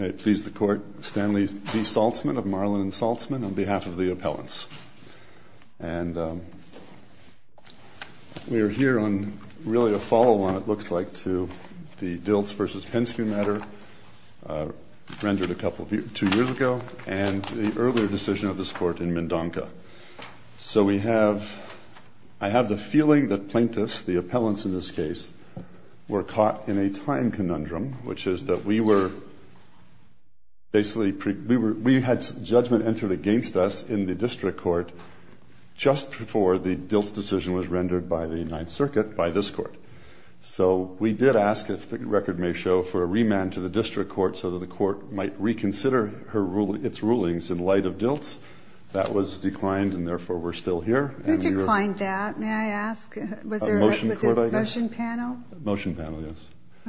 May it please the Court, Stanley D. Saltzman of Marlin & Saltzman, on behalf of the appellants. And we are here on really a follow-on, it looks like, to the Diltz v. Penske matter, rendered a couple, two years ago, and the earlier decision of this Court in Mendonca. So we have, I have the feeling that plaintiffs, the appellants in this case, were caught in a time conundrum, which is that we were, basically, we had judgment entered against us in the District Court just before the Diltz decision was rendered by the United Circuit by this Court. So we did ask, if the record may show, for a remand to the District Court so that the Court might reconsider its rulings in light of Diltz. That was declined, and therefore we're still here. Who declined that, may I ask? Was there a motion panel? A motion panel, yes.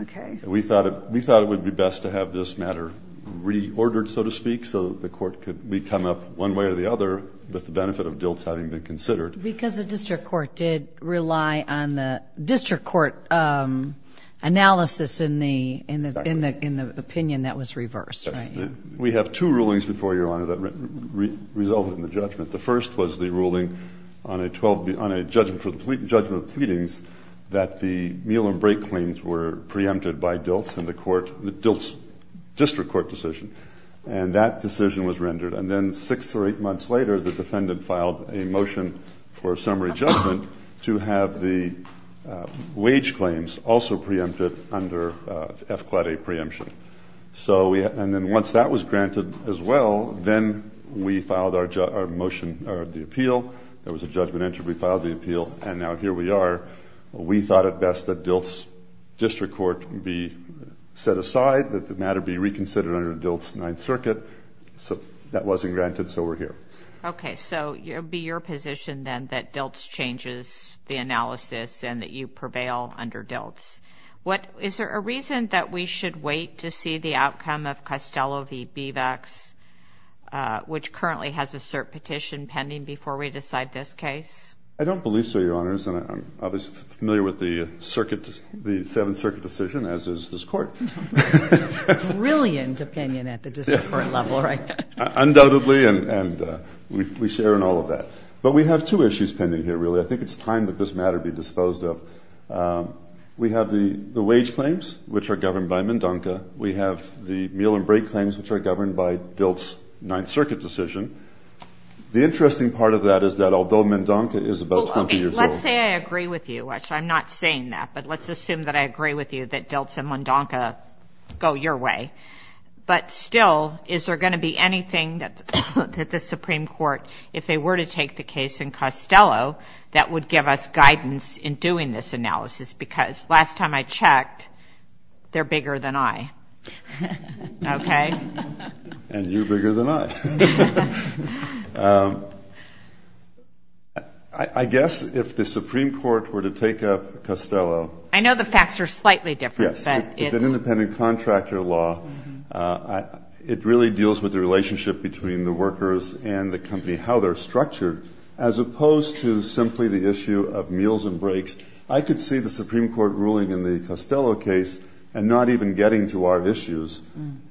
Okay. We thought it would be best to have this matter reordered, so to speak, so that the Court could come up one way or the other with the benefit of Diltz having been considered. Because the District Court did rely on the District Court analysis in the opinion that was reversed, right? We have two rulings before you, Your Honor, that resulted in the judgment. The first was the ruling on a judgment of pleadings that the meal and break claims were preempted by Diltz in the Diltz District Court decision. And that decision was rendered. And then six or eight months later, the defendant filed a motion for a summary judgment to have the wage claims also preempted under F-Quad A preemption. And then once that was granted as well, then we filed our motion or the appeal. There was a judgment entered. We filed the appeal, and now here we are. We thought it best that Diltz District Court be set aside, that the matter be reconsidered under Diltz Ninth Circuit. So that wasn't granted, so we're here. Okay. So it would be your position then that Diltz changes the analysis and that you prevail under Diltz. Is there a reason that we should wait to see the outcome of Costello v. Bevex, which currently has a cert petition pending before we decide this case? I don't believe so, Your Honors, and I'm obviously familiar with the Seventh Circuit decision, as is this Court. Brilliant opinion at the District Court level, right? Undoubtedly, and we share in all of that. But we have two issues pending here, really. I think it's time that this matter be disposed of. We have the wage claims, which are governed by MnDONCA. We have the meal and break claims, which are governed by Diltz Ninth Circuit decision. The interesting part of that is that although MnDONCA is about 20 years old. Let's say I agree with you. I'm not saying that, but let's assume that I agree with you that Diltz and MnDONCA go your way. But still, is there going to be anything that the Supreme Court, if they were to take the case in Costello, that would give us guidance in doing this analysis? Because last time I checked, they're bigger than I. Okay? And you're bigger than I. I guess if the Supreme Court were to take up Costello. I know the facts are slightly different. Yes. It's an independent contractor law. It really deals with the relationship between the workers and the company, how they're structured, as opposed to simply the issue of meals and breaks. I could see the Supreme Court ruling in the Costello case, and not even getting to our issues,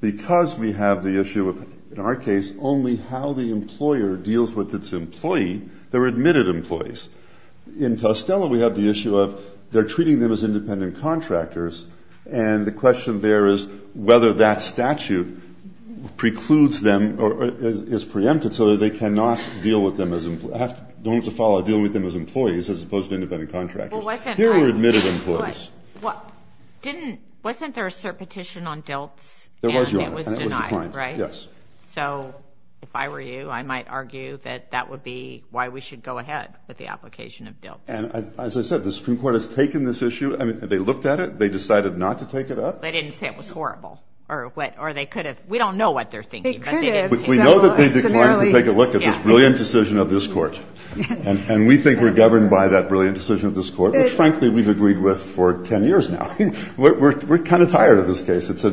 because we have the issue of, in our case, only how the employer deals with its employee, their admitted employees. In Costello, we have the issue of they're treating them as independent contractors, and the question there is whether that statute precludes them or is preempted so that they cannot deal with them as employees, as opposed to independent contractors. Here we're admitted employees. Wasn't there a cert petition on DILTs? There was, Your Honor. And it was denied, right? Yes. So if I were you, I might argue that that would be why we should go ahead with the application of DILTs. And as I said, the Supreme Court has taken this issue. They looked at it. They decided not to take it up. They didn't say it was horrible. Or they could have. We don't know what they're thinking. They could have. We know that they declined to take a look at this brilliant decision of this Court. And we think we're governed by that brilliant decision of this Court, which, frankly, we've agreed with for 10 years now. We're kind of tired of this case. It's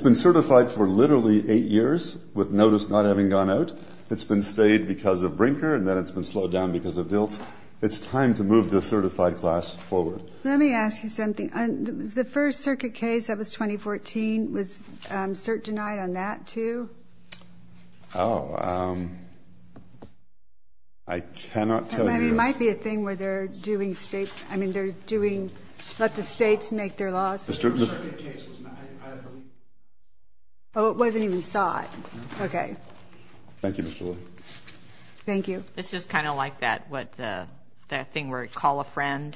been certified for literally eight years with notice not having gone out. It's been stayed because of Brinker, and then it's been slowed down because of DILTs. It's time to move the certified class forward. Let me ask you something. The first circuit case that was 2014, was cert denied on that, too? Oh, I cannot tell you. It might be a thing where they're doing state ‑‑ I mean, they're doing let the states make their laws. The first circuit case was not ‑‑ Oh, it wasn't even sought. Okay. Thank you, Mr. Lee. Thank you. This is kind of like that thing where you call a friend,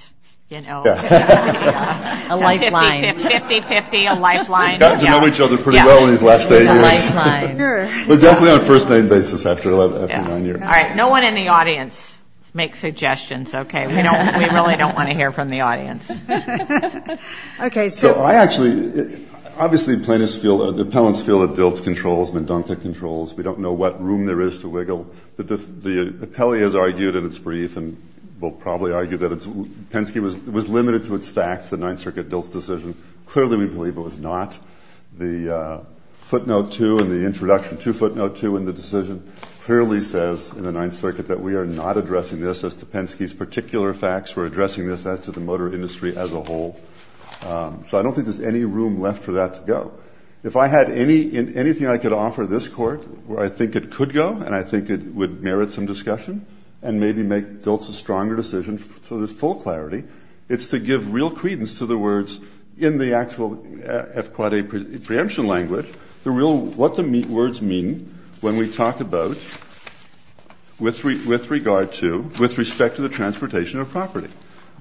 you know. A lifeline. 50‑50, a lifeline. They've gotten to know each other pretty well in these last eight years. A lifeline. Definitely on a first name basis after nine years. All right. No one in the audience make suggestions. Okay. We really don't want to hear from the audience. Okay. So I actually, obviously, plaintiffs feel, the appellants feel that DILTs controls, Mdontka controls. We don't know what room there is to wiggle. The appellee has argued in its brief and will probably argue that Penske was limited to its facts, the Ninth Circuit DILTs decision. Clearly, we believe it was not. The footnote two in the introduction, two footnote two in the decision, clearly says in the Ninth Circuit that we are not addressing this as to Penske's particular facts. We're addressing this as to the motor industry as a whole. So I don't think there's any room left for that to go. If I had anything I could offer this court where I think it could go and I think it would merit some discussion and maybe make DILTs a stronger decision to the full clarity, it's to give real credence to the words in the actual FQIA preemption language, the real, what the words mean when we talk about with regard to, with respect to the transportation of property.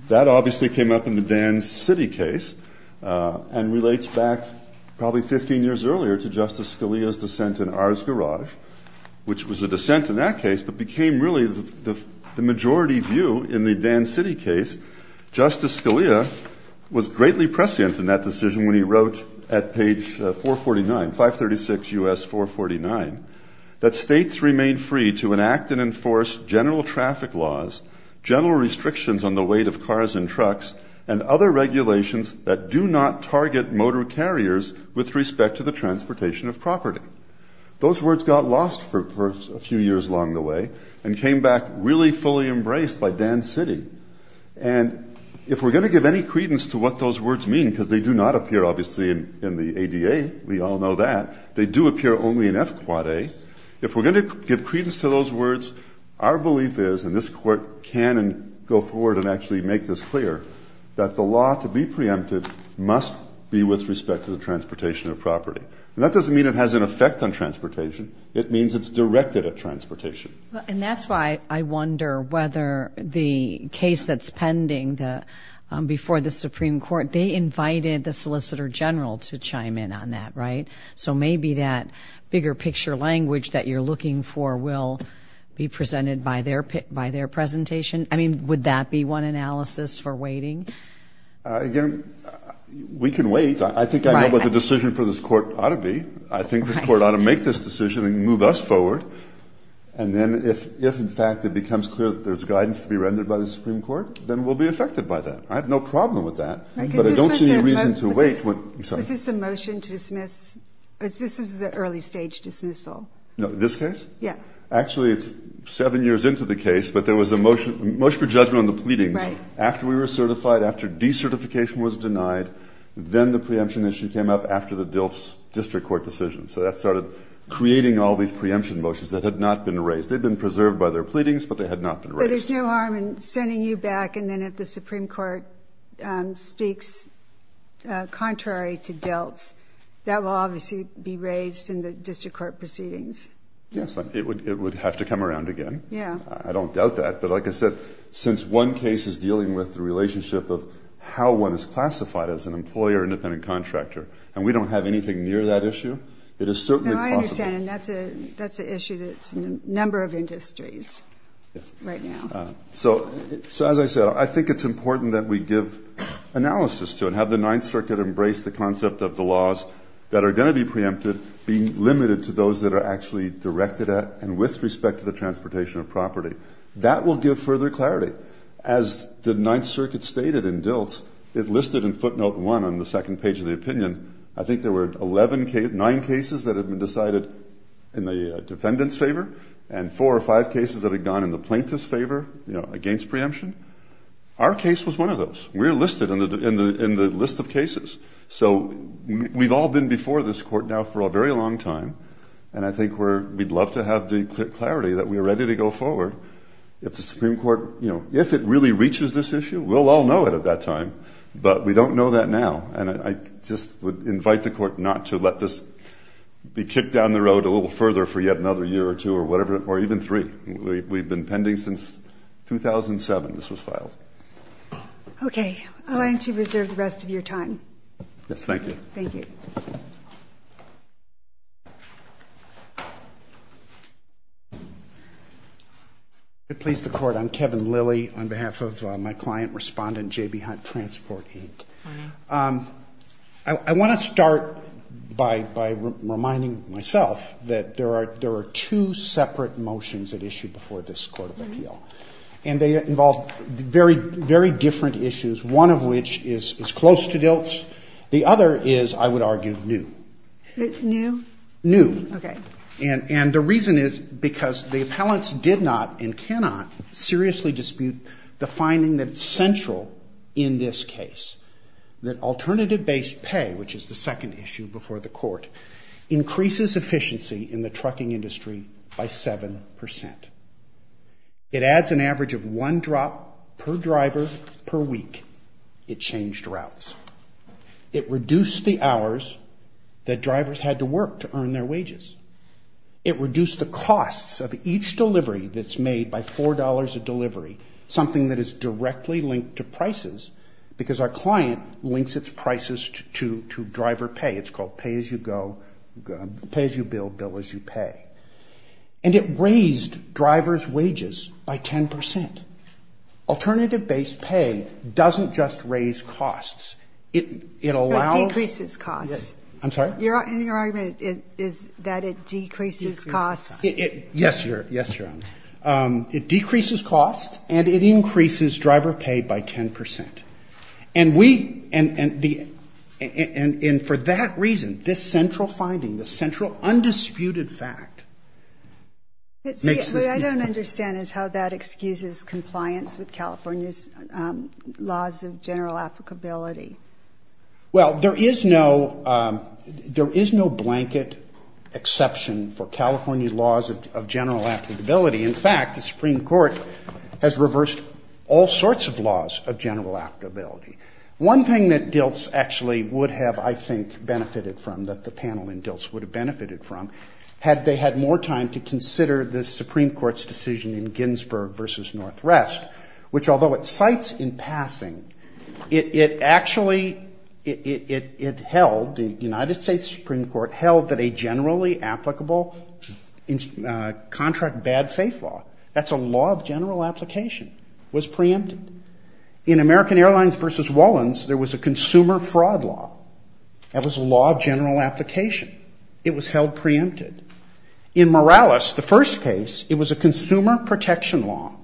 That obviously came up in the Dan City case and relates back probably 15 years earlier to Justice Scalia's dissent in Ars Garage, which was a dissent in that case but became really the majority view in the Dan City case. Justice Scalia was greatly prescient in that decision when he wrote at page 449, 536 U.S. 449, that states remain free to enact and enforce general traffic laws, general restrictions on the weight of cars and trucks, and other regulations that do not target motor carriers with respect to the transportation of property. Those words got lost for a few years along the way and came back really fully embraced by Dan City. And if we're going to give any credence to what those words mean, because they do not appear obviously in the ADA, we all know that, they do appear only in FQIA. If we're going to give credence to those words, our belief is, and this Court can go forward and actually make this clear, that the law to be preempted must be with respect to the transportation of property. And that doesn't mean it has an effect on transportation. It means it's directed at transportation. And that's why I wonder whether the case that's pending before the Supreme Court, they invited the Solicitor General to chime in on that, right? So maybe that bigger picture language that you're looking for will be presented by their presentation? I mean, would that be one analysis for waiting? Again, we can wait. I think I know what the decision for this Court ought to be. I think this Court ought to make this decision and move us forward. And then if, in fact, it becomes clear that there's guidance to be rendered by the Supreme Court, then we'll be affected by that. I have no problem with that. But I don't see any reason to wait. Is this a motion to dismiss? This is an early-stage dismissal. No, this case? Yeah. Actually, it's seven years into the case, but there was a motion for judgment on the pleadings. Right. After we were certified, after decertification was denied, then the preemption issue came up after the district court decision. So that started creating all these preemption motions that had not been raised. They'd been preserved by their pleadings, but they had not been raised. So there's no harm in sending you back, and then if the Supreme Court speaks contrary to Deltz, that will obviously be raised in the district court proceedings. Yes, it would have to come around again. Yeah. I don't doubt that. But like I said, since one case is dealing with the relationship of how one is classified as an employer or independent contractor, and we don't have anything near that issue, it is certainly possible. I understand, and that's an issue that's in a number of industries right now. So as I said, I think it's important that we give analysis to it and have the Ninth Circuit embrace the concept of the laws that are going to be preempted being limited to those that are actually directed at and with respect to the transportation of property. That will give further clarity. As the Ninth Circuit stated in Deltz, it listed in footnote one on the second page of the opinion, I think there were nine cases that had been decided in the defendant's favor and four or five cases that had gone in the plaintiff's favor against preemption. Our case was one of those. We're listed in the list of cases. So we've all been before this court now for a very long time, and I think we'd love to have the clarity that we're ready to go forward. If the Supreme Court, you know, if it really reaches this issue, we'll all know it at that time, but we don't know that now. And I just would invite the court not to let this be kicked down the road a little further for yet another year or two or whatever, or even three. We've been pending since 2007 this was filed. Okay. I'll let you reserve the rest of your time. Yes, thank you. Thank you. If it pleases the court, I'm Kevin Lilly on behalf of my client respondent, J.B. Hunt Transport, Inc. I want to start by reminding myself that there are two separate motions that issue before this court of appeal, and they involve very different issues, one of which is close to Dilt's. The other is, I would argue, new. New? New. Okay. And the reason is because the appellants did not and cannot seriously dispute the finding that's central in this case, that alternative-based pay, which is the second issue before the court, increases efficiency in the trucking industry by 7%. It adds an average of one drop per driver per week. It changed routes. It reduced the hours that drivers had to work to earn their wages. It reduced the costs of each delivery that's made by $4 a delivery, something that is directly linked to prices because our client links its prices to driver pay. It's called pay-as-you-go, pay-as-you-bill, bill-as-you-pay. And it raised drivers' wages by 10%. Alternative-based pay doesn't just raise costs. It allows you to increase costs. I'm sorry? Your argument is that it decreases costs. Yes, Your Honor. It decreases costs, and it increases driver pay by 10%. And we – and for that reason, this central finding, this central undisputed fact, makes this the issue. What I don't understand is how that excuses compliance with California's laws of general applicability. Well, there is no blanket exception for California laws of general applicability. In fact, the Supreme Court has reversed all sorts of laws of general applicability. One thing that DILTS actually would have, I think, benefited from, that the panel in DILTS would have benefited from, had they had more time to consider the Supreme Court's decision in Ginsburg v. Northrest, which, although it cites in passing, it actually – it held, the United States Supreme Court held, that a generally applicable contract bad faith law – that's a law of general application – was preempted. In American Airlines v. Wallens, there was a consumer fraud law. That was a law of general application. It was held preempted. In Morales, the first case, it was a consumer protection law,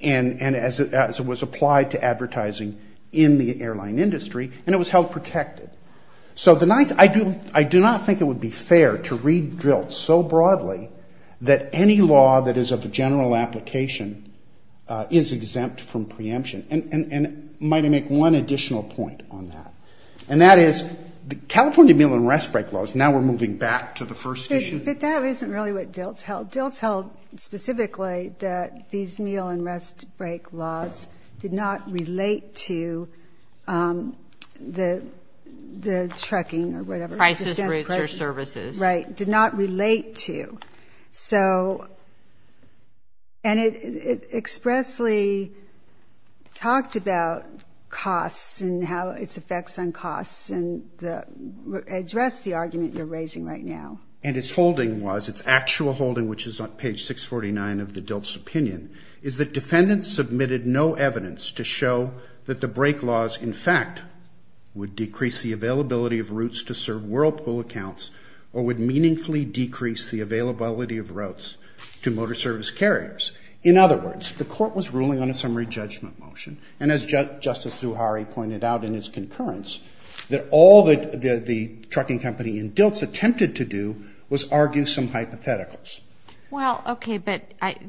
and as it was applied to advertising in the airline industry, and it was held protected. So the ninth – I do not think it would be fair to read DILTS so broadly that any law that is of general application is exempt from preemption. And might I make one additional point on that? And that is, the California meal and rest break laws, now we're moving back to the first issue. But that isn't really what DILTS held. DILTS held specifically that these meal and rest break laws did not relate to the trucking or whatever. Crisis rates or services. Right. Did not relate to. And it expressly talked about costs and how its effects on costs and addressed the argument you're raising right now. And its holding was – its actual holding, which is on page 649 of the DILTS opinion – is that defendants submitted no evidence to show that the break laws, in fact, would decrease the availability of routes to serve Whirlpool accounts or would meaningfully decrease the availability of routes to motor service carriers. In other words, the Court was ruling on a summary judgment motion. And as Justice Zuhari pointed out in his concurrence, that all that the trucking company in DILTS attempted to do was argue some hypotheticals. Well, okay. But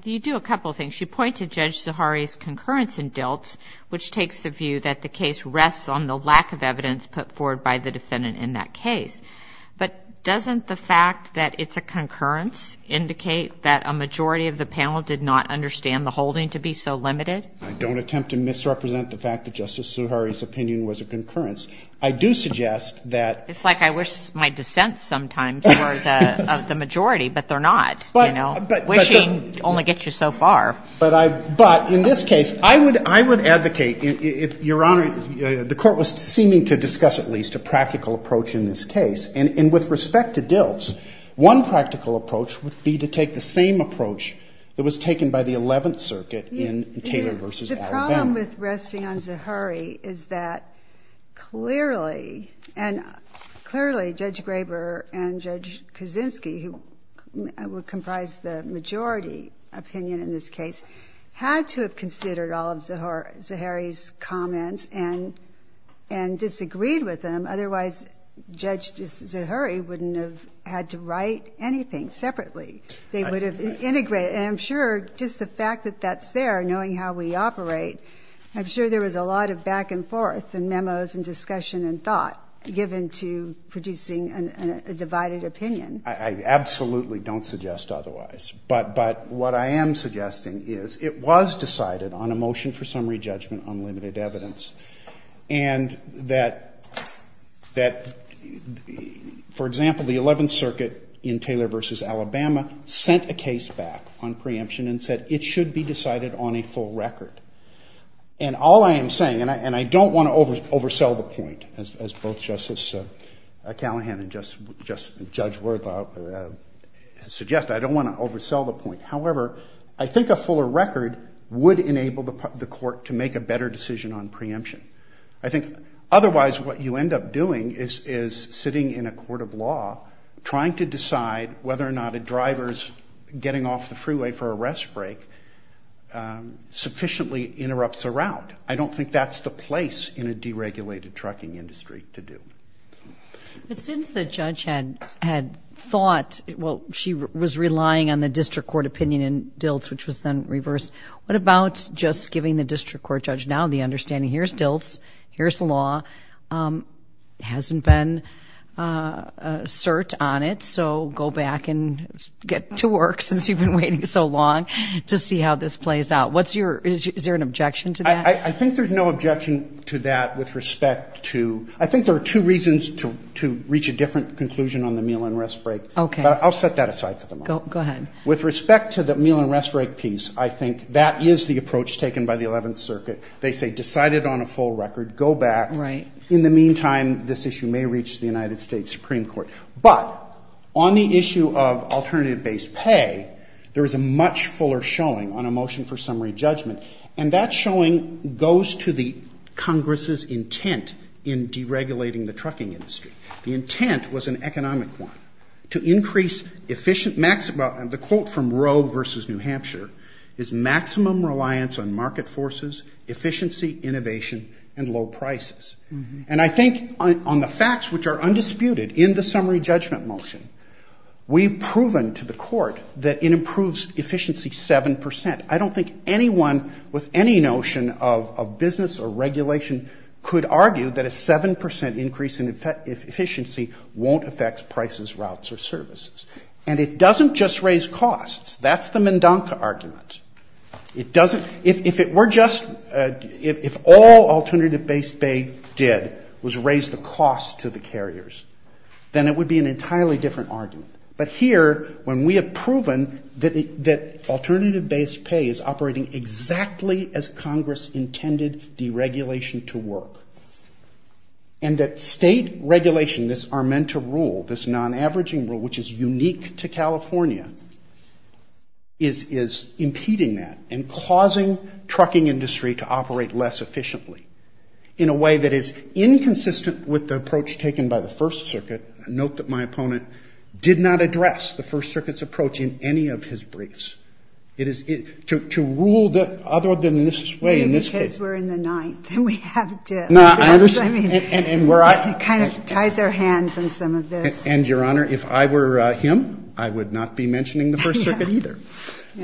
you do a couple of things. You point to Judge Zuhari's concurrence in DILTS, which takes the view that the case rests on the lack of evidence put forward by the defendant in that case. But doesn't the fact that it's a concurrence indicate that a majority of the panel did not understand the holding to be so limited? I don't attempt to misrepresent the fact that Justice Zuhari's opinion was a concurrence. I do suggest that – It's like I wish my dissents sometimes were of the majority, but they're not. But – but – Wishing only gets you so far. But I – but in this case, I would – I would advocate, Your Honor, the Court was seeming to discuss at least a practical approach in this case. And with respect to DILTS, one practical approach would be to take the same approach that was taken by the Eleventh Circuit in Taylor v. Alabama. The problem with resting on Zuhari is that clearly – and clearly Judge Graber and Judge Kaczynski, who would comprise the majority opinion in this case, had to have disagreed with them. Otherwise, Judge Zuhari wouldn't have had to write anything separately. They would have integrated. And I'm sure just the fact that that's there, knowing how we operate, I'm sure there was a lot of back and forth and memos and discussion and thought given to producing a divided opinion. I absolutely don't suggest otherwise. But – but what I am suggesting is it was decided on a motion for summary judgment on limited evidence. And that – that, for example, the Eleventh Circuit in Taylor v. Alabama sent a case back on preemption and said it should be decided on a full record. And all I am saying – and I don't want to oversell the point, as both Justice Callahan and Judge Worthout suggest. I don't want to oversell the point. However, I think a fuller record would enable the court to make a better decision on preemption. I think otherwise what you end up doing is sitting in a court of law trying to decide whether or not a driver's getting off the freeway for a rest break sufficiently interrupts the route. I don't think that's the place in a deregulated trucking industry to do. But since the judge had – had thought – well, she was relying on the district court opinion in DILTS, which was then reversed. What about just giving the district court judge now the understanding here's DILTS, here's the law, hasn't been assert on it, so go back and get to work since you've been waiting so long to see how this plays out. What's your – is there an objection to that? I think there's no objection to that with respect to – I think there are two reasons to reach a different conclusion on the meal and rest break. Okay. But I'll set that aside for the moment. Go ahead. With respect to the meal and rest break piece, I think that is the approach taken by the Eleventh Circuit. They say decide it on a full record, go back. Right. In the meantime, this issue may reach the United States Supreme Court. But on the issue of alternative-based pay, there is a much fuller showing on a motion for summary judgment. And that showing goes to the Congress' intent in deregulating the trucking industry. The intent was an economic one. To increase efficient – the quote from Roe versus New Hampshire is maximum reliance on market forces, efficiency, innovation, and low prices. And I think on the facts which are undisputed in the summary judgment motion, we've proven to the court that it improves efficiency 7%. I don't think anyone with any notion of business or regulation could argue that a 7% increase in efficiency won't affect prices, routes, or services. And it doesn't just raise costs. That's the Mendonca argument. It doesn't – if it were just – if all alternative-based pay did was raise the cost to the carriers, then it would be an entirely different argument. But here, when we have proven that alternative-based pay is operating exactly as Congress intended deregulation to work, and that state regulation, this Armenta rule, this non-averaging rule, which is unique to California, is impeding that and causing trucking industry to operate less efficiently in a way that is inconsistent with the approach taken by the First Circuit. Note that my opponent did not address the First Circuit's approach in any of his briefs. It is – to rule that other than this way in this case. Ginsburg. If the kids were in the ninth, then we have to. I mean, it kind of ties our hands in some of this. Verrilli, Jr. And, Your Honor, if I were him, I would not be mentioning the First Circuit either. Ginsburg.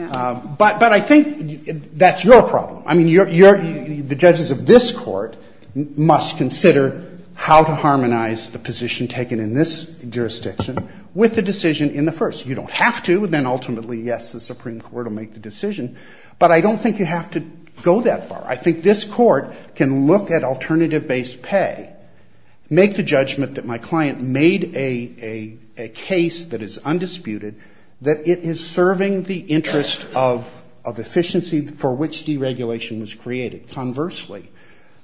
Verrilli, Jr. But I think that's your problem. I mean, the judges of this Court must consider how to harmonize the position taken in this jurisdiction with the decision in the first. You don't have to. Then, ultimately, yes, the Supreme Court will make the decision. But I don't think you have to go that far. I think this Court can look at alternative-based pay, make the judgment that my client made a case that is undisputed, that it is serving the interest of efficiency for which deregulation was created. Conversely,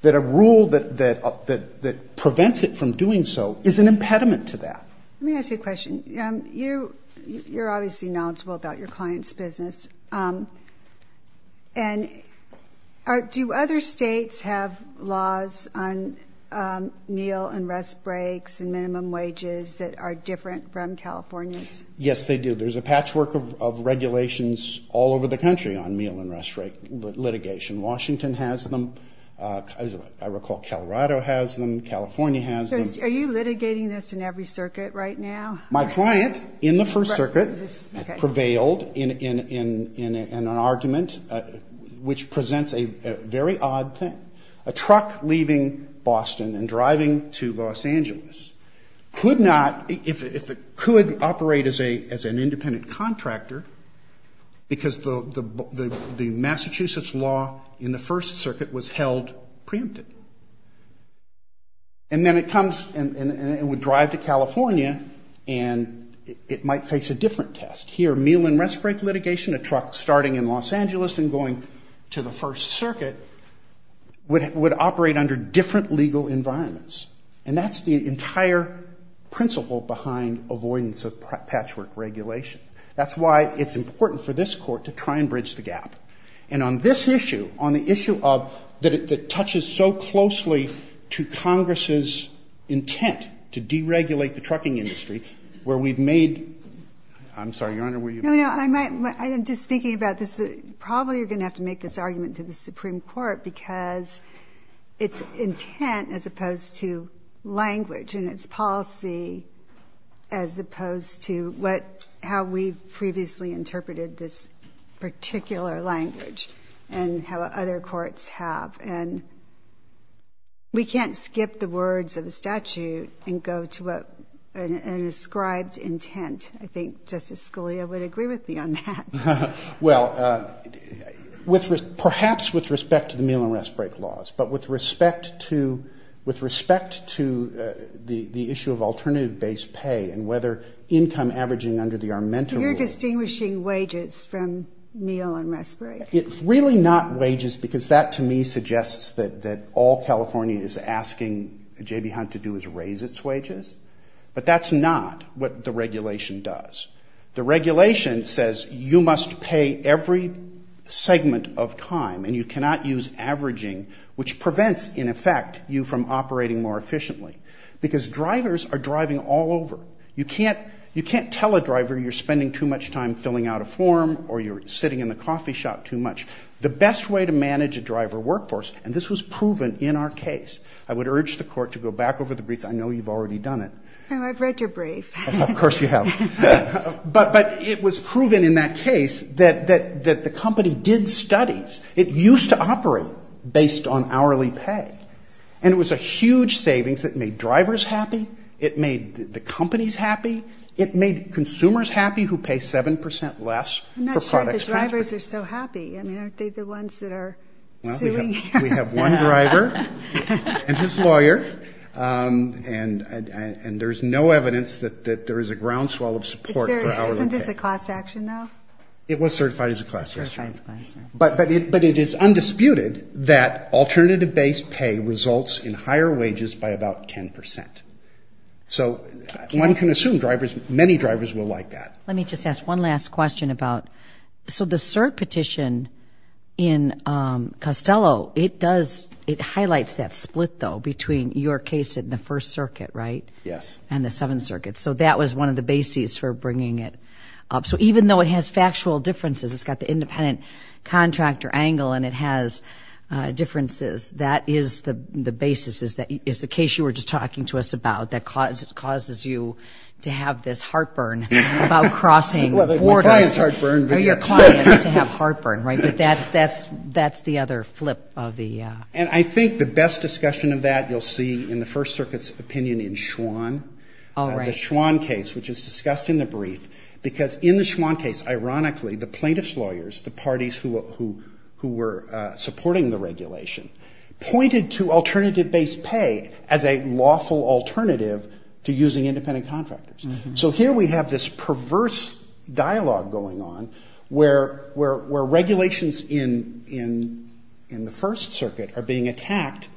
that a rule that prevents it from doing so is an impediment to that. Let me ask you a question. You're obviously knowledgeable about your client's business. And do other states have laws on meal and rest breaks and minimum wages that are different from California's? Yes, they do. There's a patchwork of regulations all over the country on meal and rest break litigation. Washington has them. I recall Colorado has them. California has them. So are you litigating this in every circuit right now? My client, in the First Circuit, prevailed in an argument which presents a very odd thing. A truck leaving Boston and driving to Los Angeles could not, if it could, operate as an independent contractor because the Massachusetts law in the First Circuit was held preempted. And then it comes and it would drive to California and it might face a different test. Here, meal and rest break litigation, a truck starting in Los Angeles and going to the First Circuit, would operate under different legal environments. And that's the entire principle behind avoidance of patchwork regulation. That's why it's important for this court to try and bridge the gap. And on this issue, on the issue that touches so closely to Congress's intent to deregulate the trucking industry, where we've made – I'm sorry, Your Honor, were you – No, no, I'm just thinking about this. Probably you're going to have to make this argument to the Supreme Court because its intent as opposed to language and its policy as opposed to what – how we've previously interpreted this particular language and how other courts have. And we can't skip the words of a statute and go to an ascribed intent. I think Justice Scalia would agree with me on that. Well, perhaps with respect to the meal and rest break laws, but with respect to the issue of alternative base pay and whether income averaging under the armamenta rule – So you're distinguishing wages from meal and rest break? It's really not wages because that to me suggests that all California is asking J.B. Hunt to do is raise its wages. But that's not what the regulation does. The regulation says you must pay every segment of time and you cannot use averaging, which prevents, in effect, you from operating more efficiently because drivers are driving all over. You can't tell a driver you're spending too much time filling out a form or you're sitting in the coffee shop too much. The best way to manage a driver workforce – and this was proven in our case. I would urge the Court to go back over the briefs. I know you've already done it. I've read your brief. Of course you have. But it was proven in that case that the company did studies. It used to operate based on hourly pay. And it was a huge savings that made drivers happy. It made the companies happy. It made consumers happy who pay 7 percent less for products. I'm not sure the drivers are so happy. I mean, aren't they the ones that are suing? We have one driver and his lawyer, and there's no evidence that there is a groundswell of support for hourly pay. Isn't this a class action, though? It was certified as a class action. But it is undisputed that alternative-based pay results in higher wages by about 10 percent. So one can assume many drivers will like that. Let me just ask one last question about – in Costello, it highlights that split, though, between your case in the First Circuit, right? Yes. And the Seventh Circuit. So that was one of the bases for bringing it up. So even though it has factual differences, it's got the independent contractor angle and it has differences, that is the basis, is the case you were just talking to us about that causes you to have this heartburn about crossing borders. Or your client's heartburn. Or your client, to have heartburn, right? But that's the other flip of the – And I think the best discussion of that you'll see in the First Circuit's opinion in Schwann. Oh, right. The Schwann case, which is discussed in the brief, because in the Schwann case, ironically, the plaintiff's lawyers, the parties who were supporting the regulation, pointed to alternative-based pay as a lawful alternative to using independent contractors. So here we have this perverse dialogue going on where regulations in the First Circuit are being attacked,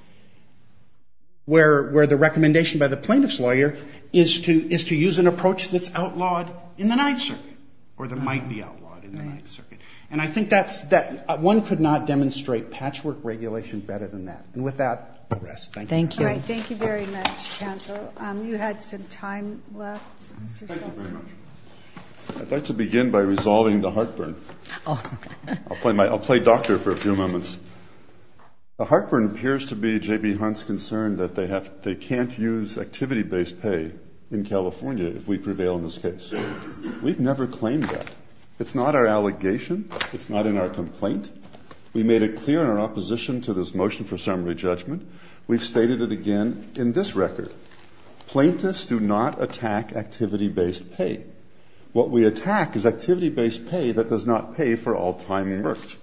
where the recommendation by the plaintiff's lawyer is to use an approach that's outlawed in the Ninth Circuit, or that might be outlawed in the Ninth Circuit. And I think that's – one could not demonstrate patchwork regulation better than that. And with that, I'll rest. All right. Thank you very much, counsel. You had some time left. Thank you very much. I'd like to begin by resolving the heartburn. I'll play doctor for a few moments. The heartburn appears to be J.B. Hunt's concern that they can't use activity-based pay in California if we prevail in this case. We've never claimed that. It's not our allegation. It's not in our complaint. We made it clear in our opposition to this motion for summary judgment. We've stated it again in this record. Plaintiffs do not attack activity-based pay. What we attack is activity-based pay that does not pay for all time worked.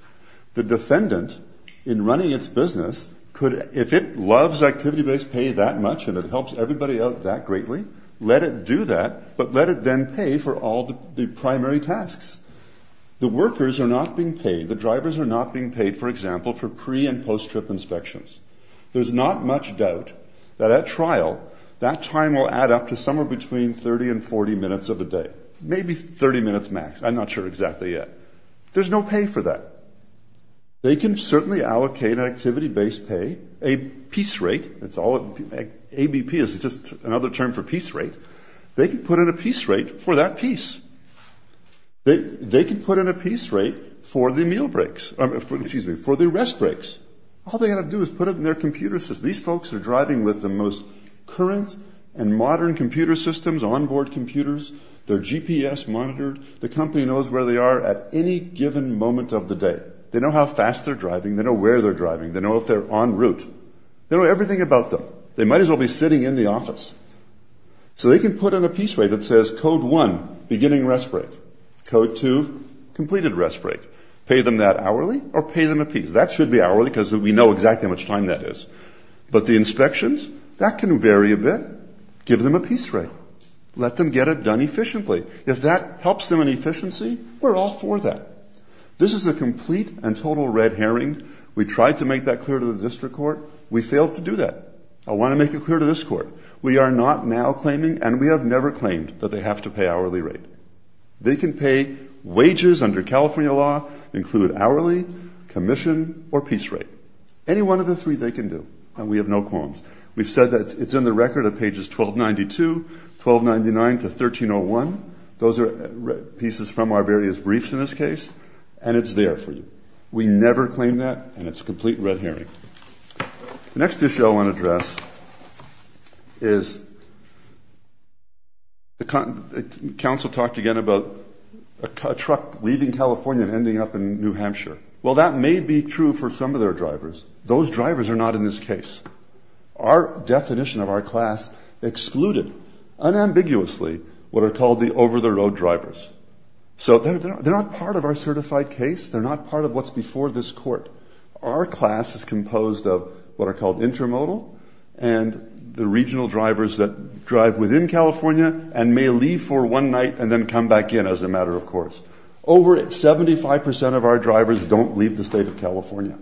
The defendant, in running its business, could – if it loves activity-based pay that much and it helps everybody out that greatly, let it do that, but let it then pay for all the primary tasks. The workers are not being paid. The drivers are not being paid, for example, for pre- and post-trip inspections. There's not much doubt that at trial, that time will add up to somewhere between 30 and 40 minutes of a day. Maybe 30 minutes max. I'm not sure exactly yet. There's no pay for that. They can certainly allocate activity-based pay, a piece rate. It's all – ABP is just another term for piece rate. They can put in a piece rate for that piece. They can put in a piece rate for the meal breaks – excuse me, for the rest breaks. All they've got to do is put it in their computer system. These folks are driving with the most current and modern computer systems, onboard computers. They're GPS monitored. The company knows where they are at any given moment of the day. They know how fast they're driving. They know where they're driving. They know if they're en route. They know everything about them. They might as well be sitting in the office. So they can put in a piece rate that says, Code 1, beginning rest break. Code 2, completed rest break. Pay them that hourly or pay them a piece. That should be hourly because we know exactly how much time that is. But the inspections, that can vary a bit. Give them a piece rate. Let them get it done efficiently. If that helps them in efficiency, we're all for that. This is a complete and total red herring. We tried to make that clear to the district court. We failed to do that. I want to make it clear to this court. We are not now claiming, and we have never claimed, that they have to pay hourly rate. They can pay wages under California law, include hourly, commission, or piece rate. Any one of the three they can do. And we have no qualms. We've said that it's in the record of pages 1292, 1299 to 1301. Those are pieces from our various briefs in this case. And it's there for you. We never claim that, and it's a complete red herring. The next issue I want to address is council talked again about a truck leaving California and ending up in New Hampshire. Well, that may be true for some of their drivers. Those drivers are not in this case. Our definition of our class excluded unambiguously what are called the over-the-road drivers. So they're not part of our certified case. They're not part of what's before this court. Our class is composed of what are called intermodal and the regional drivers that drive within California and may leave for one night and then come back in as a matter of course. Over 75% of our drivers don't leave the state of California.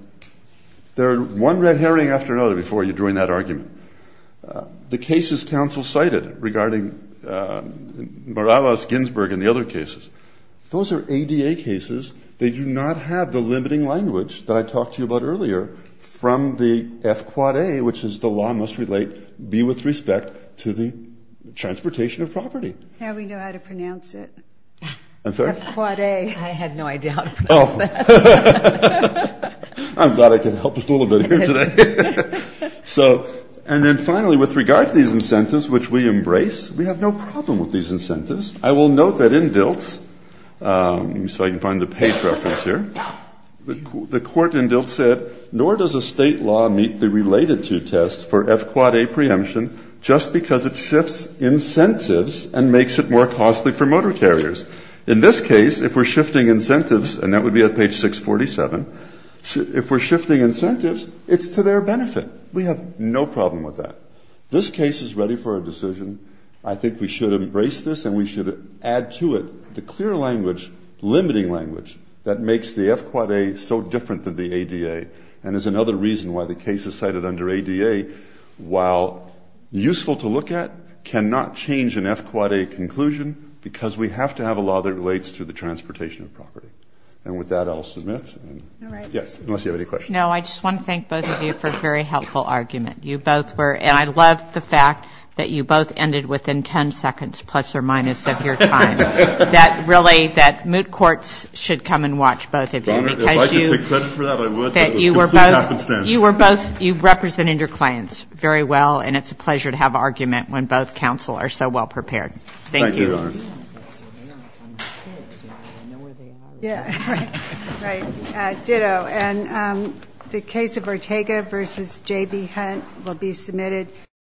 They're one red herring after another before you join that argument. The cases council cited regarding Morales, Ginsburg, and the other cases, those are ADA cases. They do not have the limiting language that I talked to you about earlier from the F-Quad-A, which is the law must relate, be with respect to the transportation of property. Now we know how to pronounce it. I'm sorry? F-Quad-A. I had no idea how to pronounce that. I'm glad I could help us a little bit here today. And then finally, with regard to these incentives which we embrace, we have no problem with these incentives. I will note that in Diltz, so I can find the page reference here, the court in Diltz said, nor does a state law meet the related to test for F-Quad-A preemption just because it shifts incentives and makes it more costly for motor carriers. In this case, if we're shifting incentives, and that would be at page 647, if we're shifting incentives, it's to their benefit. We have no problem with that. This case is ready for a decision. I think we should embrace this and we should add to it the clear language, limiting language, that makes the F-Quad-A so different than the ADA, and is another reason why the case is cited under ADA, while useful to look at, cannot change an F-Quad-A conclusion because we have to have a law that relates to the transportation of property. And with that, I'll submit. All right. Yes, unless you have any questions. No, I just want to thank both of you for a very helpful argument. You both were, and I love the fact that you both ended within 10 seconds plus or minus of your time. That really, that moot courts should come and watch both of you. If I could take credit for that, I would. That you were both, you were both, you represented your clients very well, and it's a pleasure to have argument when both counsel are so well prepared. Thank you. Thank you, Your Honor. Yeah, right. Right. Ditto. And the case of Ortega v. J.B. Hunt will be submitted.